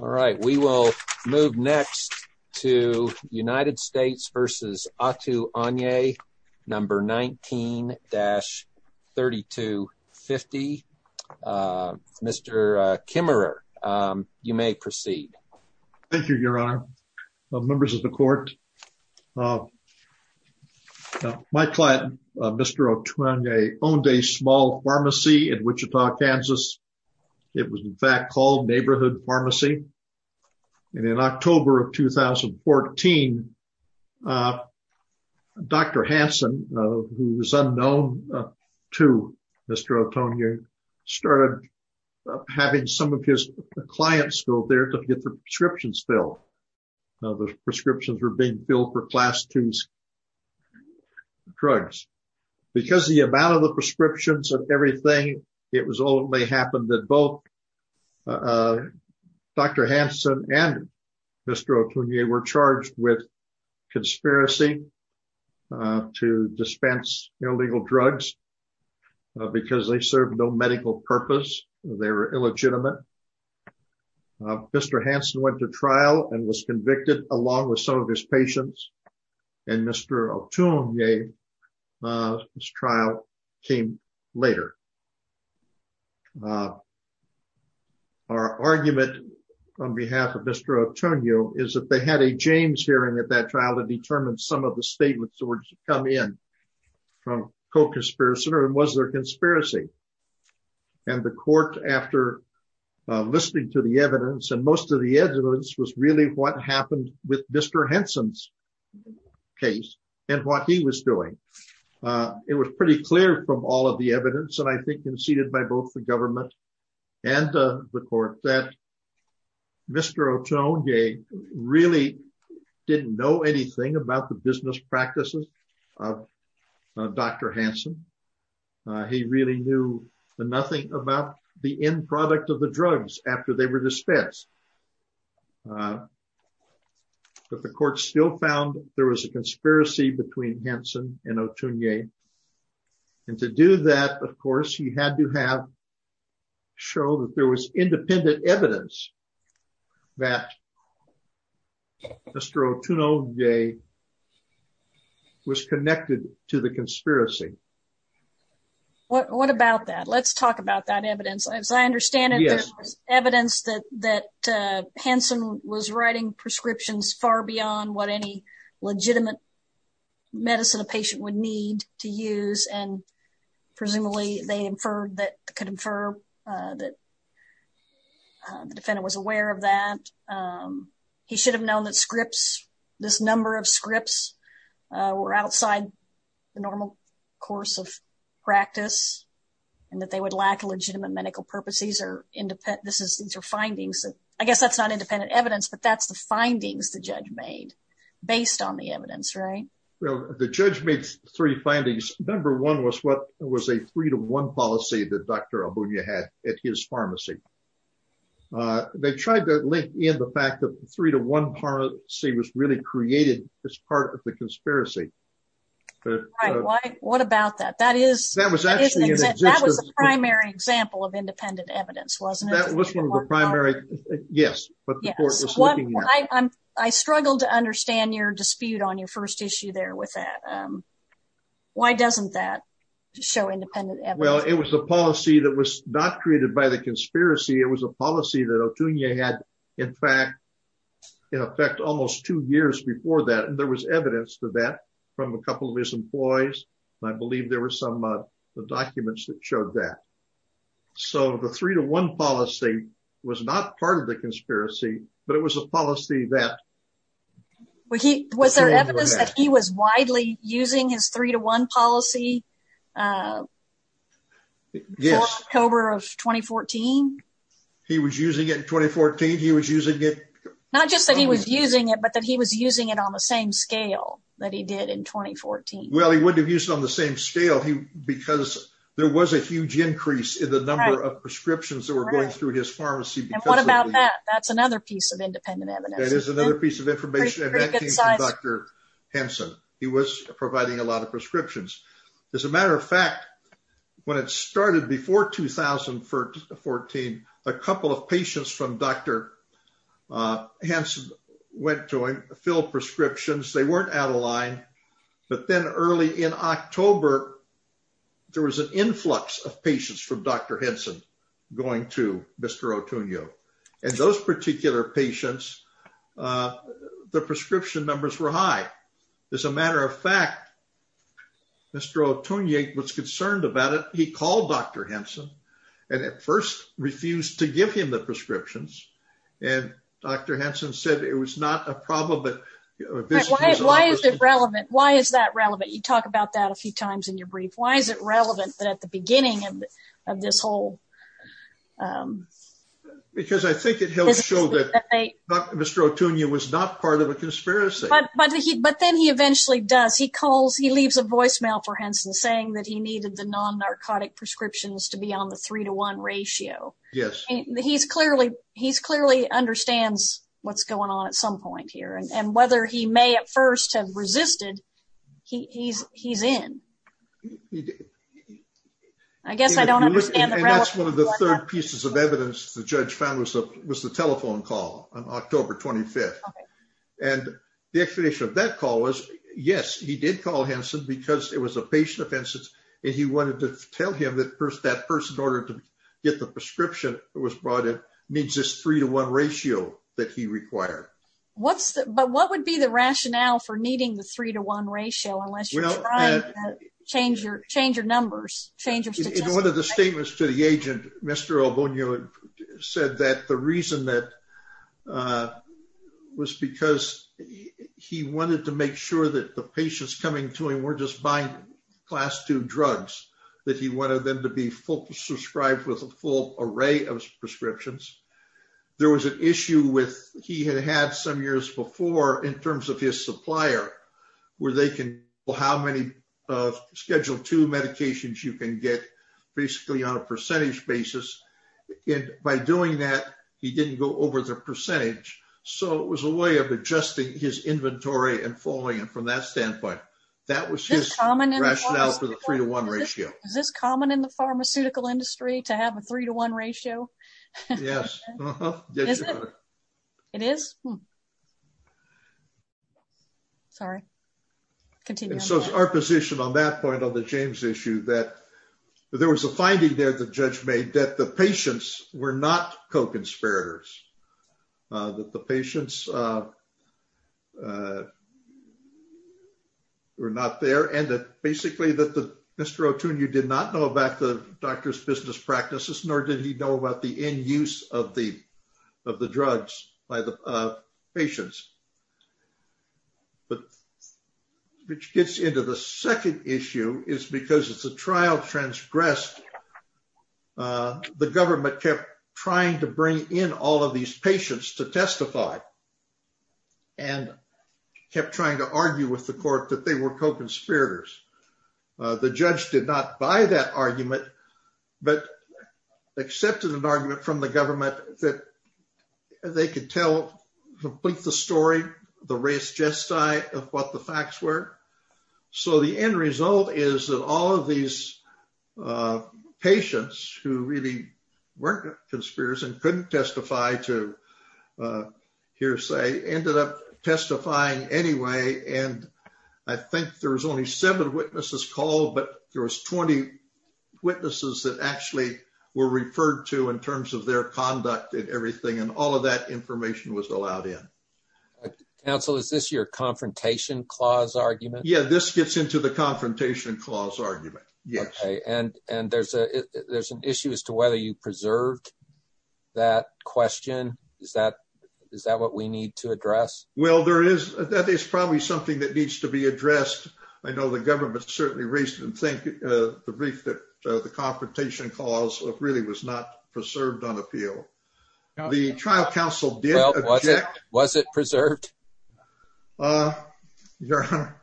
All right, we will move next to United States v. Otuonye, number 19-3250. Mr. Kimmerer, you may proceed. Thank you, Your Honor. Members of the Court, my client, Mr. Otuonye, owned a small pharmacy in Wichita, Kansas. It was in fact called Neighborhood Pharmacy. And in October of 2014, Dr. Hansen, who was unknown to Mr. Otuonye, started having some of his clients go there to get the prescriptions filled. The prescriptions were being filled for Class II drugs. Because of the amount of the prescriptions and everything, it was only happened that both Dr. Hansen and Mr. Otuonye were charged with conspiracy to dispense illegal drugs because they served no medical purpose. They were illegitimate. Mr. Hansen went to trial and was convicted along with some of his patients. And Mr. Otuonye's argument on behalf of Mr. Otuonye is that they had a James hearing at that trial to determine some of the statements that were to come in from co-conspirators and was there conspiracy. And the Court, after listening to the evidence, and most of the evidence was really what happened with Mr. Hansen's case and what he was doing. It was pretty clear from all of the evidence, and I think conceded by both the government and the Court, that Mr. Otuonye really didn't know anything about the business practices of Dr. Hansen. He really knew nothing about the end product of the drugs after they were dispensed. But the Court still found there was a conspiracy between Hansen and Otuonye. And to do that, he had to show that there was independent evidence that Mr. Otuonye was connected to the conspiracy. What about that? Let's talk about that evidence. As I understand it, there was evidence that Hansen was writing prescriptions far beyond what any legitimate medicine a patient would need to use. And presumably, they inferred that, could infer that the defendant was aware of that. He should have known that scripts, this number of scripts, were outside the normal course of practice and that they would lack legitimate medical purpose. These are independent, these are findings. I guess that's not independent evidence, but that's the findings the judge made based on the evidence, right? Well, the judge made three findings. Number one was what was a three-to-one policy that Dr. Otuonye had at his pharmacy. They tried to link in the fact that the three-to-one policy was really created as part of the conspiracy. What about that? That was the primary example of I struggled to understand your dispute on your first issue there with that. Why doesn't that show independent evidence? Well, it was a policy that was not created by the conspiracy. It was a policy that Otuonye had, in fact, in effect, almost two years before that. And there was evidence to that from a couple of his employees. I believe there were some documents that showed that. So the three-to-one policy was not part of the conspiracy, but it was a policy that- Was there evidence that he was widely using his three-to-one policy for October of 2014? He was using it in 2014? He was using it- Not just that he was using it, but that he was using it on the same scale that he did in 2014. Well, he wouldn't have used it on the same scale because there was a huge increase in the number of prescriptions that were going through his pharmacy because- And what about that? That's another piece of independent evidence. That is another piece of information. Pretty good size. And that came from Dr. Henson. He was providing a lot of prescriptions. As a matter of fact, when it started before 2014, a couple of patients from Dr. Henson went to him to fill prescriptions. They weren't out of line. But then early in October, there was an influx of patients from Dr. Henson going to Mr. Otunio. And those particular patients, the prescription numbers were high. As a matter of fact, Mr. Otunio was concerned about it. He called Dr. Henson and at first refused to give him the prescriptions. And Dr. Henson said it was not a problem, but- Why is it relevant? Why is that relevant? You talk about that a few times in your brief. Why is it relevant that at the beginning of this whole- Because I think it helps show that Mr. Otunio was not part of a conspiracy. But then he eventually does. He leaves a voicemail for Henson saying that he needed the non-narcotic prescriptions to be on the three to one ratio. Yes. He clearly understands what's going on at some point here. And whether he may at first have he's in. I guess I don't understand the- And that's one of the third pieces of evidence the judge found was the telephone call on October 25th. And the explanation of that call was, yes, he did call Henson because it was a patient of Henson's. And he wanted to tell him that that person ordered to get the prescription that was brought in needs this three to one ratio that he required. But what would be the rationale for needing the three to one ratio unless you're trying to change your numbers, change your- In one of the statements to the agent, Mr. Otunio said that the reason that was because he wanted to make sure that the patients coming to him were just buying class two drugs, that he wanted them to be subscribed with a full array of prescriptions. There was an issue with, he had had some years before in terms of his supplier, where they can, well, how many scheduled two medications you can get basically on a percentage basis. And by doing that, he didn't go over the percentage. So it was a way of adjusting his inventory and following him from that standpoint. That was his rationale for the three to one ratio. Is this common in the pharmaceutical industry to have a three to one ratio? Yes. It is? Sorry, continue. So it's our position on that point on the James issue that there was a finding there the judge made that the patients were not co-conspirators, that the patients were not there. And that basically that Mr. Otunio did not know about the doctor's business practices, nor did he know about the end use of the drugs by the patients. But which gets into the second issue is because it's a trial transgressed. The government kept trying to bring in all of these patients to testify and kept trying to argue with the court that they were co-conspirators. The judge did not buy that argument, but accepted an argument from the government that they could tell, complete the story, the race gesti of what the facts were. So the end result is that all of these patients who really weren't conspirators and couldn't testify to hearsay ended up testifying anyway. And I think there was only seven witnesses called, but there was 20 witnesses that actually were referred to in terms of their conduct and everything. And all of that information was allowed in. Counsel, is this your confrontation clause argument? Yeah, this gets into the confrontation clause argument. Yes. And there's an issue as to whether you preserved that question. Is that what we need to address? Well, that is probably something that needs to be addressed. I know the government certainly raised the brief that the confrontation clause really was not preserved on appeal. The trial counsel did object. Was it preserved? Your Honor,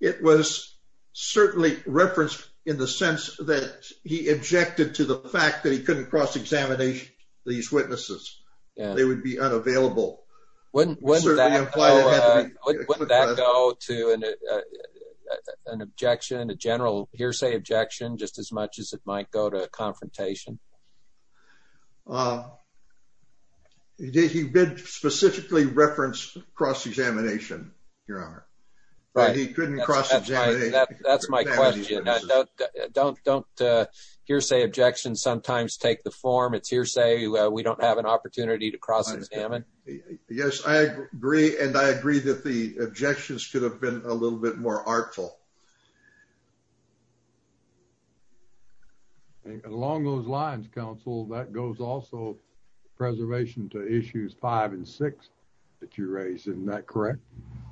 it was certainly referenced in the sense that he objected to the fact that he couldn't cross-examine these witnesses. They would be unavailable. Wouldn't that go to an objection, a general hearsay objection, just as much as it might go to a confrontation? He did specifically reference cross-examination, Your Honor. But he couldn't cross-examine. That's my question. Don't hearsay objections sometimes take the form. It's hearsay. We don't have an opportunity to cross-examine. Yes, I agree. And I agree that the objections could have been a little bit more artful. And along those lines, counsel, that goes also preservation to issues five and six that you raised. Isn't that correct?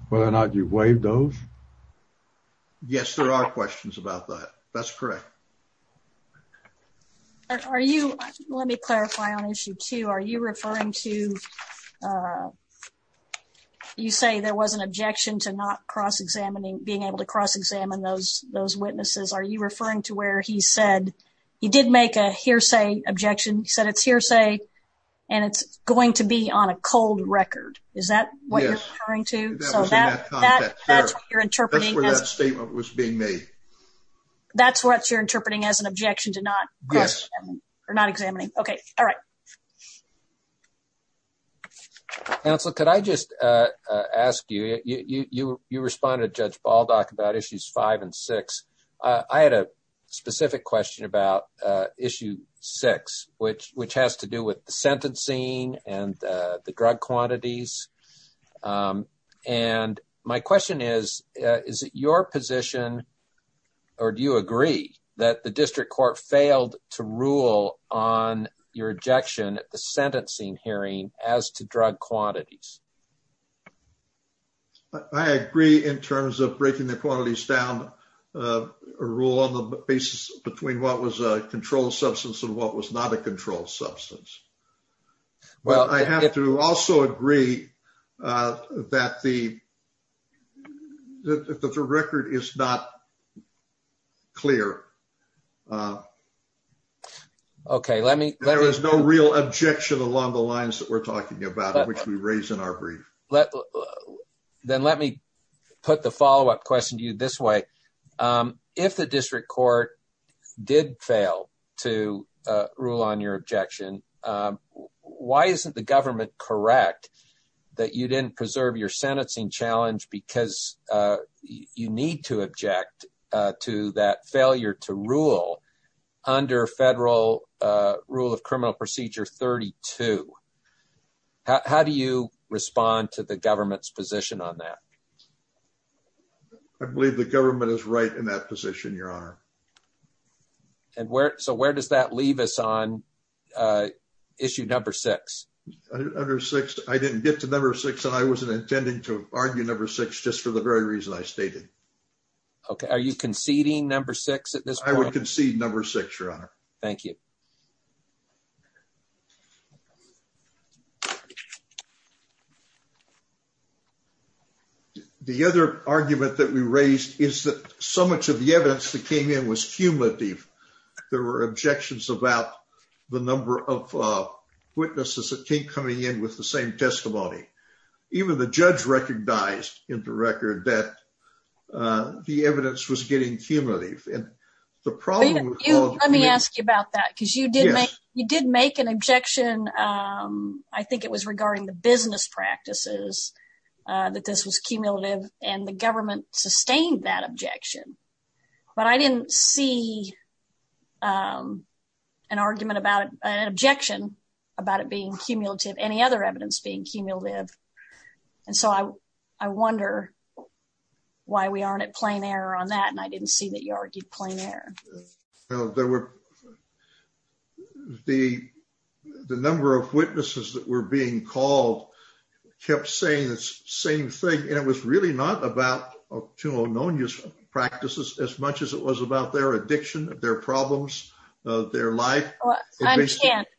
Whether or not you've waived those? Yes, there are questions about that. That's correct. Are you, let me clarify on issue two. Are you referring to, uh, you say there was an objection to not cross-examining, being able to cross-examine those, those witnesses. Are you referring to where he said he did make a hearsay objection? He said it's hearsay and it's going to be on a cold record. Is that what you're referring to? That's what you're interpreting. That's where that statement was being made. That's what you're interpreting as an objection to not cross-examining or not examining. Okay. All right. Counsel, could I just, uh, uh, ask you, you, you, you, you respond to judge Baldock about issues five and six. Uh, I had a specific question about, uh, issue six, which, which has to do with the sentencing and, uh, the drug quantities. Um, and my question is, uh, is it your position or do you agree that the district court failed to rule on your objection at the sentencing hearing as to drug quantities? I agree in terms of breaking the quantities down, uh, a rule on the basis between what was a controlled substance and what was not a controlled substance. Well, I have to also agree, uh, that the, that the record is not clear. Uh, okay. Let me, there is no real objection along the lines that we're talking about, which we raised in our brief. Let, then let me put the follow-up question to you this way. Um, if the district court did fail to, uh, rule on your objection, um, why isn't the government correct that you didn't preserve your sentencing challenge because, uh, you need to object, uh, to that failure to rule under federal, uh, rule of criminal procedure 32. How do you respond to the government's position on that? I believe the government is right in that position, your honor. And where, so where does that leave us on, uh, issue number six? Under six, I didn't get to number six and I wasn't intending to argue number six just for the very reason I stated. Okay. Are you conceding number six at this point? I would concede number six, your honor. Thank you. The other argument that we raised is that so much of the evidence that came in was cumulative. There were objections about the number of, uh, witnesses that came coming in with the same testimony. Even the judge recognized in the record that, uh, the evidence was getting cumulative. The problem, let me ask you about that because you did, you did make an objection. Um, I think it was regarding the business practices, uh, that this was cumulative and the government sustained that objection, but I didn't see, um, an argument about an objection about it being cumulative, any other evidence being cumulative. And so I, I wonder why we aren't at plain error on that. I didn't see that you argued plain error. No, there were the, the number of witnesses that were being called kept saying the same thing. And it was really not about two unknown use practices as much as it was about their addiction, their problems, uh, their life.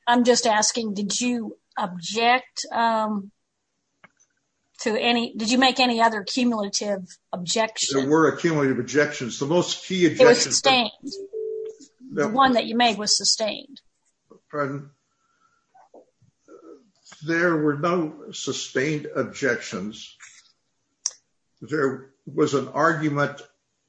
I'm just asking, did you object, um, to any, did you make any other cumulative objection? There were a cumulative objections, the most key, the one that you made was sustained. There were no sustained objections. There was an argument,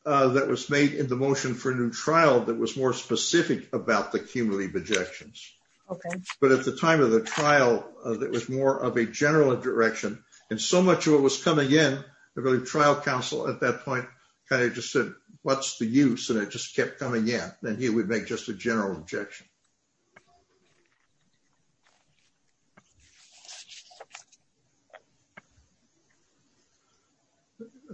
uh, that was made in the motion for a new trial that was more specific about the cumulative objections. Okay. But at the time of the trial, uh, that was more of a general direction. And so much of it was coming in the trial council at that point, kind of just said, what's the use? And it just kept coming in. Then he would make just a general objection.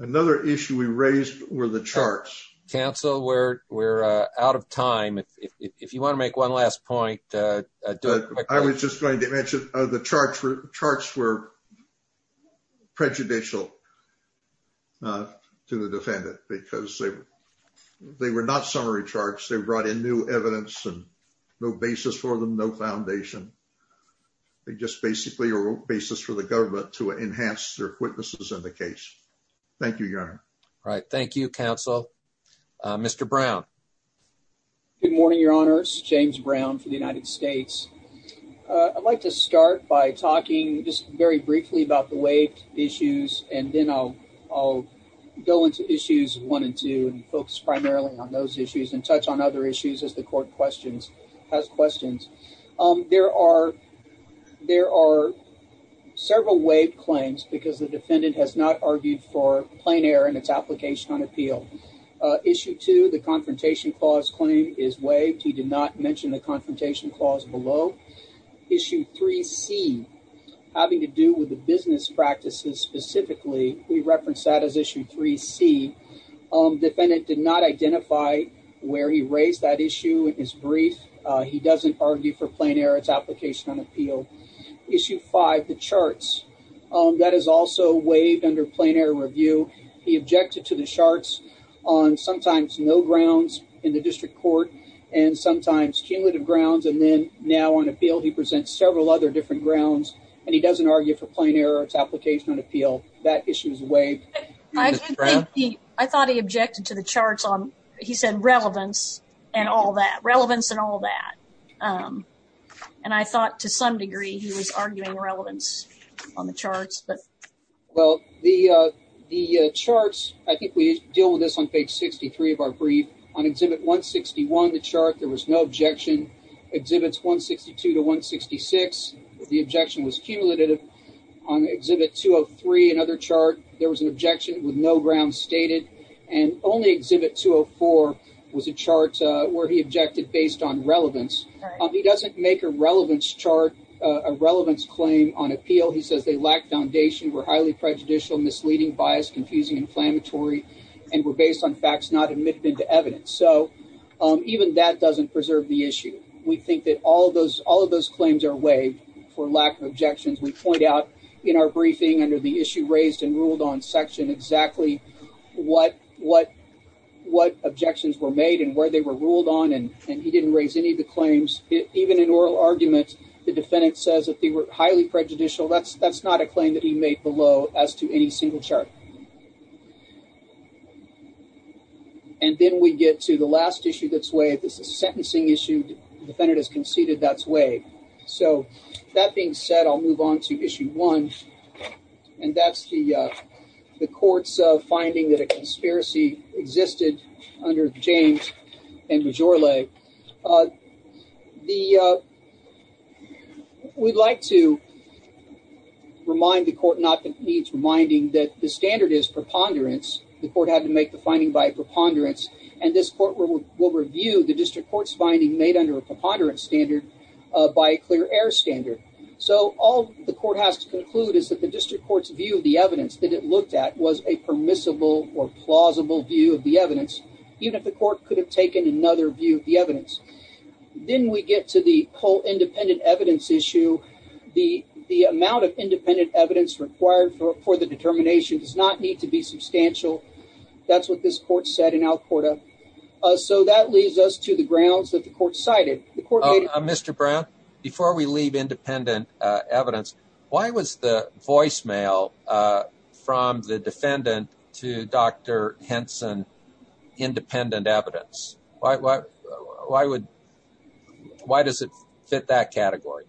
Another issue we raised were the charts council where we're out of time. If you want to make one point, uh, I was just going to mention, uh, the charts charts were prejudicial, uh, to the defendant because they, they were not summary charts. They brought in new evidence and no basis for them. No foundation. They just basically are basis for the government to enhance their witnesses in the case. Thank you. Your honor. Right. Thank you. Council. Uh, Mr. Brown, good morning, your honors, James Brown for the United States. Uh, I'd like to start by talking just very briefly about the way issues. And then I'll, I'll go into issues one and two and focus primarily on those issues and touch on other issues as the court questions has questions. Um, there are, there are several wave claims because the defendant has not argued for confrontation clause claim is waived. He did not mention the confrontation clause below issue three C having to do with the business practices. Specifically. We referenced that as issue three C, um, defendant did not identify where he raised that issue. It is brief. Uh, he doesn't argue for plain error. It's application on appeal issue five, the charts, um, that is also waived under plain error review. He objected to the charts on sometimes no grounds in the district court and sometimes cumulative grounds. And then now on appeal, he presents several other different grounds and he doesn't argue for plain error. It's application on appeal. That issue is waived. I thought he objected to the charts on, he said relevance and all that relevance and all that. Um, and I thought to some degree he was arguing relevance on the charts, but well, the, uh, the, uh, charts, I think we deal with this on page 63 of our brief on exhibit 161, the chart, there was no objection exhibits 162 to 166. The objection was cumulative on exhibit 203. Another chart, there was an objection with no ground stated and only exhibit 204 was a chart, uh, he objected based on relevance. Um, he doesn't make a relevance chart, a relevance claim on appeal. He says they lack foundation. We're highly prejudicial, misleading, biased, confusing, inflammatory, and we're based on facts, not admitted into evidence. So, um, even that doesn't preserve the issue. We think that all of those, all of those claims are waived for lack of objections. We point out in our briefing under the issue raised and ruled on section exactly what, what, what objections were made and where they were ruled on. And he didn't raise any of the claims. Even in oral arguments, the defendant says that they were highly prejudicial. That's, that's not a claim that he made below as to any single chart. And then we get to the last issue that's waived. This is a sentencing issue. Defendant has conceded that's waived. So that being said, I'll move on to issue one. And that's the, uh, the court's, uh, finding that a conspiracy existed under James and Majorelle. The, uh, we'd like to remind the court, not that needs reminding, that the standard is preponderance. The court had to make the finding by preponderance. And this court will review the district court's finding made under a preponderance standard, uh, by a clear air standard. So all the court has to conclude is that the district court's view of the evidence that it looked at was a permissible or plausible view of the evidence, even if the court could have taken another view of the evidence. Then we get to the whole independent evidence issue. The, the amount of independent evidence required for, for the determination does not need to be substantial. That's what this court said in Alcorta. Uh, so that leads us to the grounds that the court cited. Mr. Brown, before we leave independent, uh, evidence, why was the voicemail, uh, from the defendant to Dr. Henson independent evidence? Why, why, why would, why does it fit that category?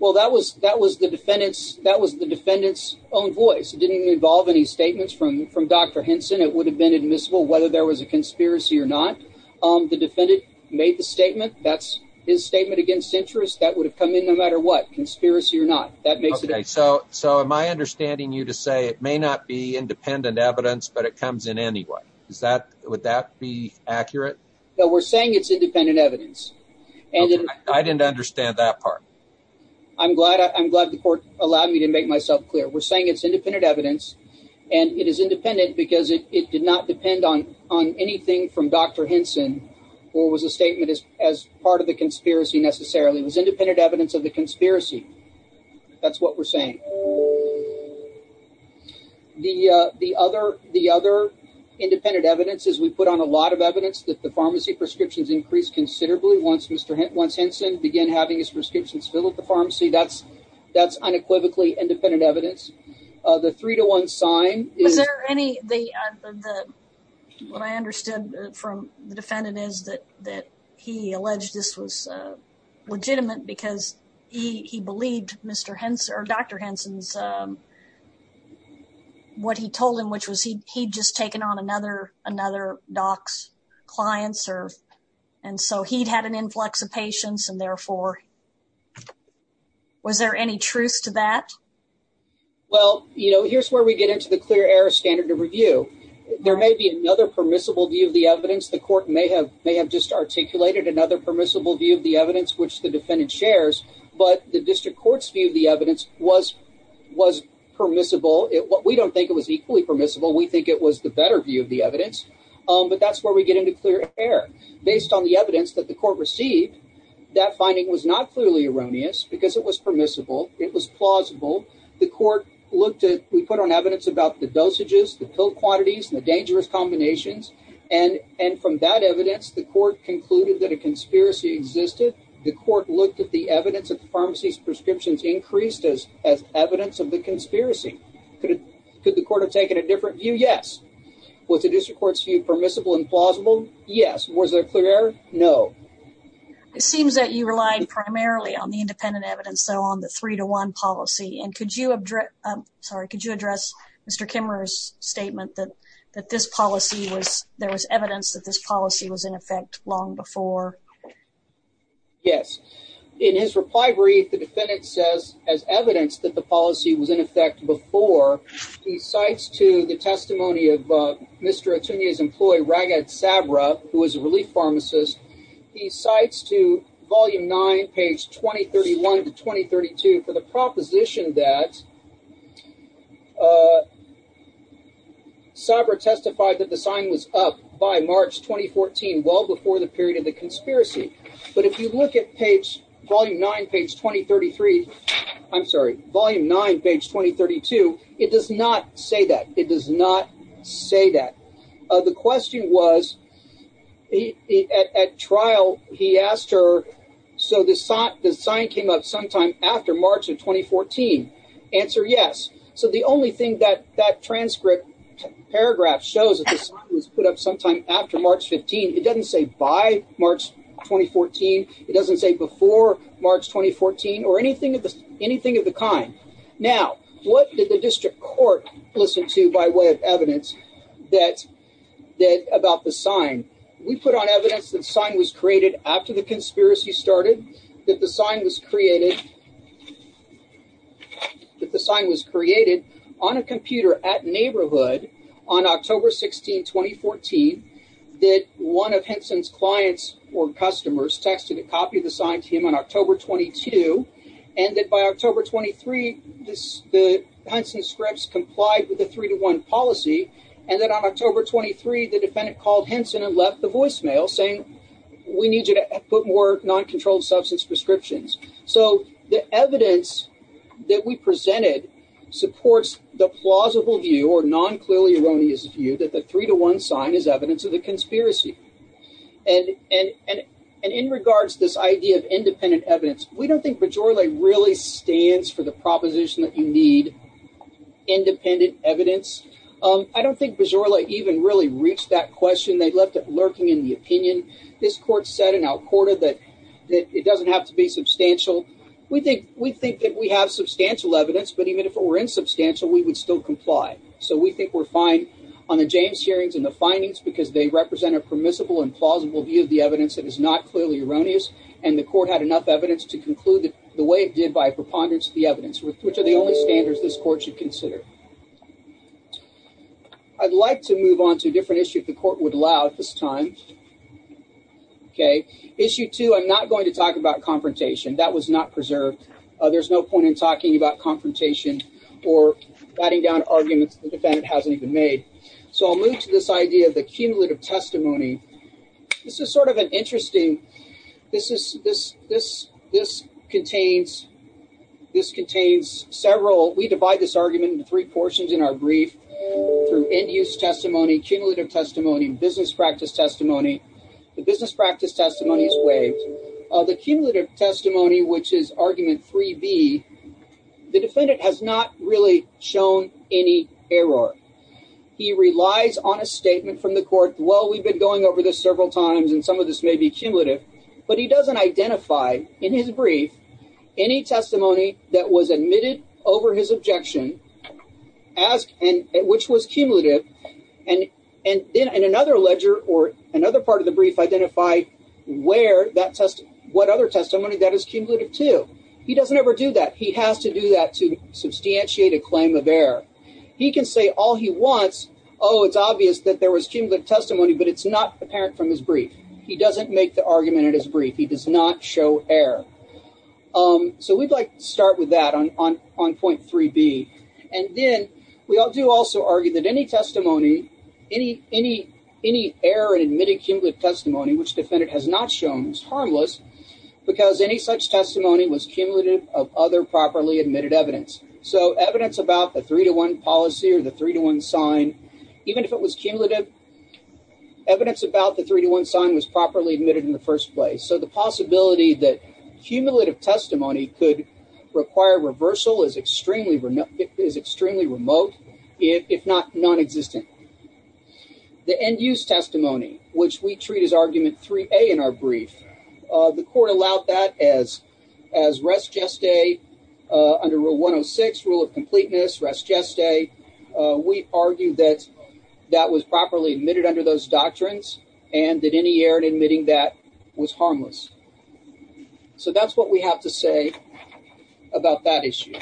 Well, that was, that was the defendant's, that was the defendant's own voice. It didn't involve any statements from, from Dr. Henson. It would have been admissible whether there was a conspiracy or not. Um, the defendant made the statement, that's his statement against interest that would have come in no matter what, conspiracy or not. That makes it okay. So, so am I understanding you to say it may not be independent evidence, but it comes in any way? Is that, would that be accurate? No, we're saying it's independent evidence. And I didn't understand that part. I'm glad, I'm glad the court allowed me to make myself clear. We're saying it's on anything from Dr. Henson or was a statement as, as part of the conspiracy necessarily. It was independent evidence of the conspiracy. That's what we're saying. The, uh, the other, the other independent evidence is we put on a lot of evidence that the pharmacy prescriptions increased considerably. Once Mr. Henson, once Henson began having his prescriptions filled at the pharmacy, that's, that's unequivocally independent evidence. Uh, the three to one sign. Was there any, the, uh, the, the, what I understood from the defendant is that, that he alleged this was, uh, legitimate because he, he believed Mr. Henson or Dr. Henson's, um, what he told him, which was he, he'd just taken on another, another doc's clients or, and so he'd had an influx of patients and therefore, was there any truth to that? Well, you know, here's where we get into the clear air standard of review. There may be another permissible view of the evidence. The court may have, may have just articulated another permissible view of the evidence, which the defendant shares, but the district court's view of the evidence was, was permissible. We don't think it was equally permissible. We think it was the better view of the evidence. Um, but that's where we get into clear air based on the evidence that the court received that finding was not clearly erroneous because it was permissible. It was plausible. The court looked at, we put on evidence about the dosages, the pill quantities and the dangerous combinations. And, and from that evidence, the court concluded that a conspiracy existed. The court looked at the evidence of the pharmacy's prescriptions increased as, as evidence of the conspiracy. Could it, could the court have taken a different view? Yes. Was the district court's view permissible and plausible? Yes. Was there no, it seems that you relied primarily on the independent evidence. So on the three to one policy and could you address, I'm sorry, could you address Mr. Kimmerer's statement that, that this policy was, there was evidence that this policy was in effect long before. Yes. In his reply brief, the defendant says as evidence that the policy was in effect before he cites to the testimony of Mr. Atunia's employee, Ragat Sabra, who was a relief pharmacist. He cites to volume nine, page 2031 to 2032 for the proposition that Sabra testified that the sign was up by March, 2014, well before the period of the conspiracy. But if you look at page, volume nine, page 2033, I'm sorry, volume nine, page 2032, it does not say that. It does not say that. The question was, at trial, he asked her, so the sign came up sometime after March of 2014. Answer, yes. So the only thing that, that transcript, paragraph shows that the sign was put up sometime after March 15. It doesn't say by March 2014. It doesn't say before March 2014 or anything of the, anything of the kind. Now, what did the district court listen to by way of evidence that, that about the sign? We put on evidence that sign was created after the conspiracy started, that the sign was created, that the sign was created on a computer at Neighborhood on October 16, 2014, that one of Henson's clients or customers texted a copy of the sign to him on October 22, and that by October 23, this, the Henson scripts complied with the three-to-one policy, and that on October 23, the defendant called Henson and left the voicemail saying, we need you to put more non-controlled substance prescriptions. So the evidence that we presented supports the plausible view or non-clearly erroneous view that the three-to-one sign is evidence of the conspiracy. And, and, and in regards to this idea of independent evidence, we don't think Bajorle really stands for the proposition that you need independent evidence. I don't think Bajorle even really reached that question. They left it lurking in the opinion. This court said in Al-Qurta that, that it doesn't have to be substantial. We think, we think that we have substantial evidence, but even if it were insubstantial, we would still comply. So we think we're fine on the James hearings and the findings because they represent a permissible and plausible view of the evidence that is not clearly erroneous. And the court had enough evidence to conclude that the way it did by preponderance of the evidence, which are the only standards this court should consider. I'd like to move on to a different issue if the court would allow at this time. Okay. Issue two, I'm not going to talk about confrontation. That was not preserved. There's no point in talking about confrontation or batting down arguments the defendant hasn't even made. So I'll move to this idea of the cumulative testimony. This is sort of an interesting, this is, this, this, this contains, this contains several, we divide this argument into three portions in our brief through end use testimony, cumulative testimony, business practice testimony. The business practice testimony is waived. The cumulative testimony, which is argument three B, the defendant has not really shown any error. He relies on a statement from the court. Well, we've been going over this several times and some of this may be cumulative, but he doesn't identify in his brief, any testimony that was admitted over his objection as, and which was cumulative and, and then in another ledger or another part of the brief identified where that test, what other testimony that is cumulative to. He doesn't ever do that. He has to do that to substantiate a claim of error. He can say all he wants. Oh, it's obvious that there was cumulative testimony, but it's not apparent from his brief. He doesn't make the And then we all do also argue that any testimony, any, any, any error in admitted cumulative testimony, which defendant has not shown is harmless because any such testimony was cumulative of other properly admitted evidence. So evidence about the three to one policy or the three to one sign, even if it was cumulative evidence about the three to one sign was properly admitted in the first place. So the possibility that cumulative testimony could require reversal is extremely remote, if not non-existent. The end use testimony, which we treat as argument 3A in our brief, the court allowed that as, as res geste under rule 106, rule of completeness, res geste. We argue that that was properly admitted under those doctrines and that any error in admitting that was harmless. So that's what we have to say about that issue.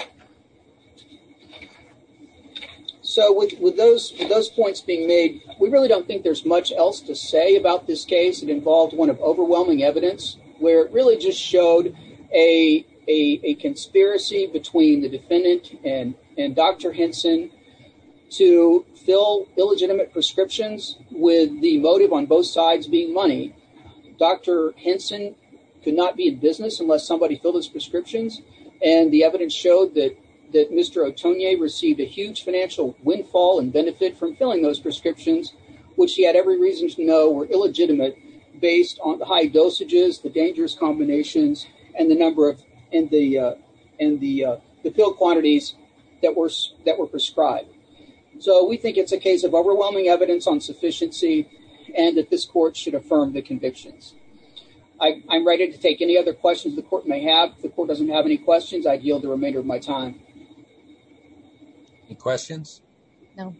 So with, with those, those points being made, we really don't think there's much else to say about this case. It involved one of overwhelming evidence where it really just showed a, a, a conspiracy between the defendant and, and Dr. Henson to fill illegitimate prescriptions with the motive on both sides being money. Dr. Henson could not be in business unless somebody filled his prescriptions. And the evidence showed that, that Mr. Otonye received a huge financial windfall and benefit from filling those prescriptions, which he had every reason to know were illegitimate based on the high dosages, the dangerous combinations, and the number of, and the, and the, uh, the pill quantities that were, that were prescribed. So we think it's a case of overwhelming evidence on sufficiency and that this court should affirm the convictions. I, I'm ready to take any other questions the court may have. If the court doesn't have any questions, I'd yield the remainder of my time. Any questions? No.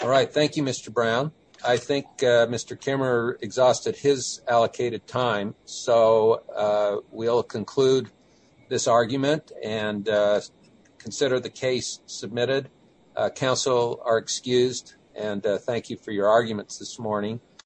All right. Thank you, Mr. Brown. I think, uh, Mr. Kimmerer exhausted his allocated time. So, uh, we'll conclude this argument and, uh, consider the case submitted. Uh, counsel are excused and, uh, thank you for your arguments this morning.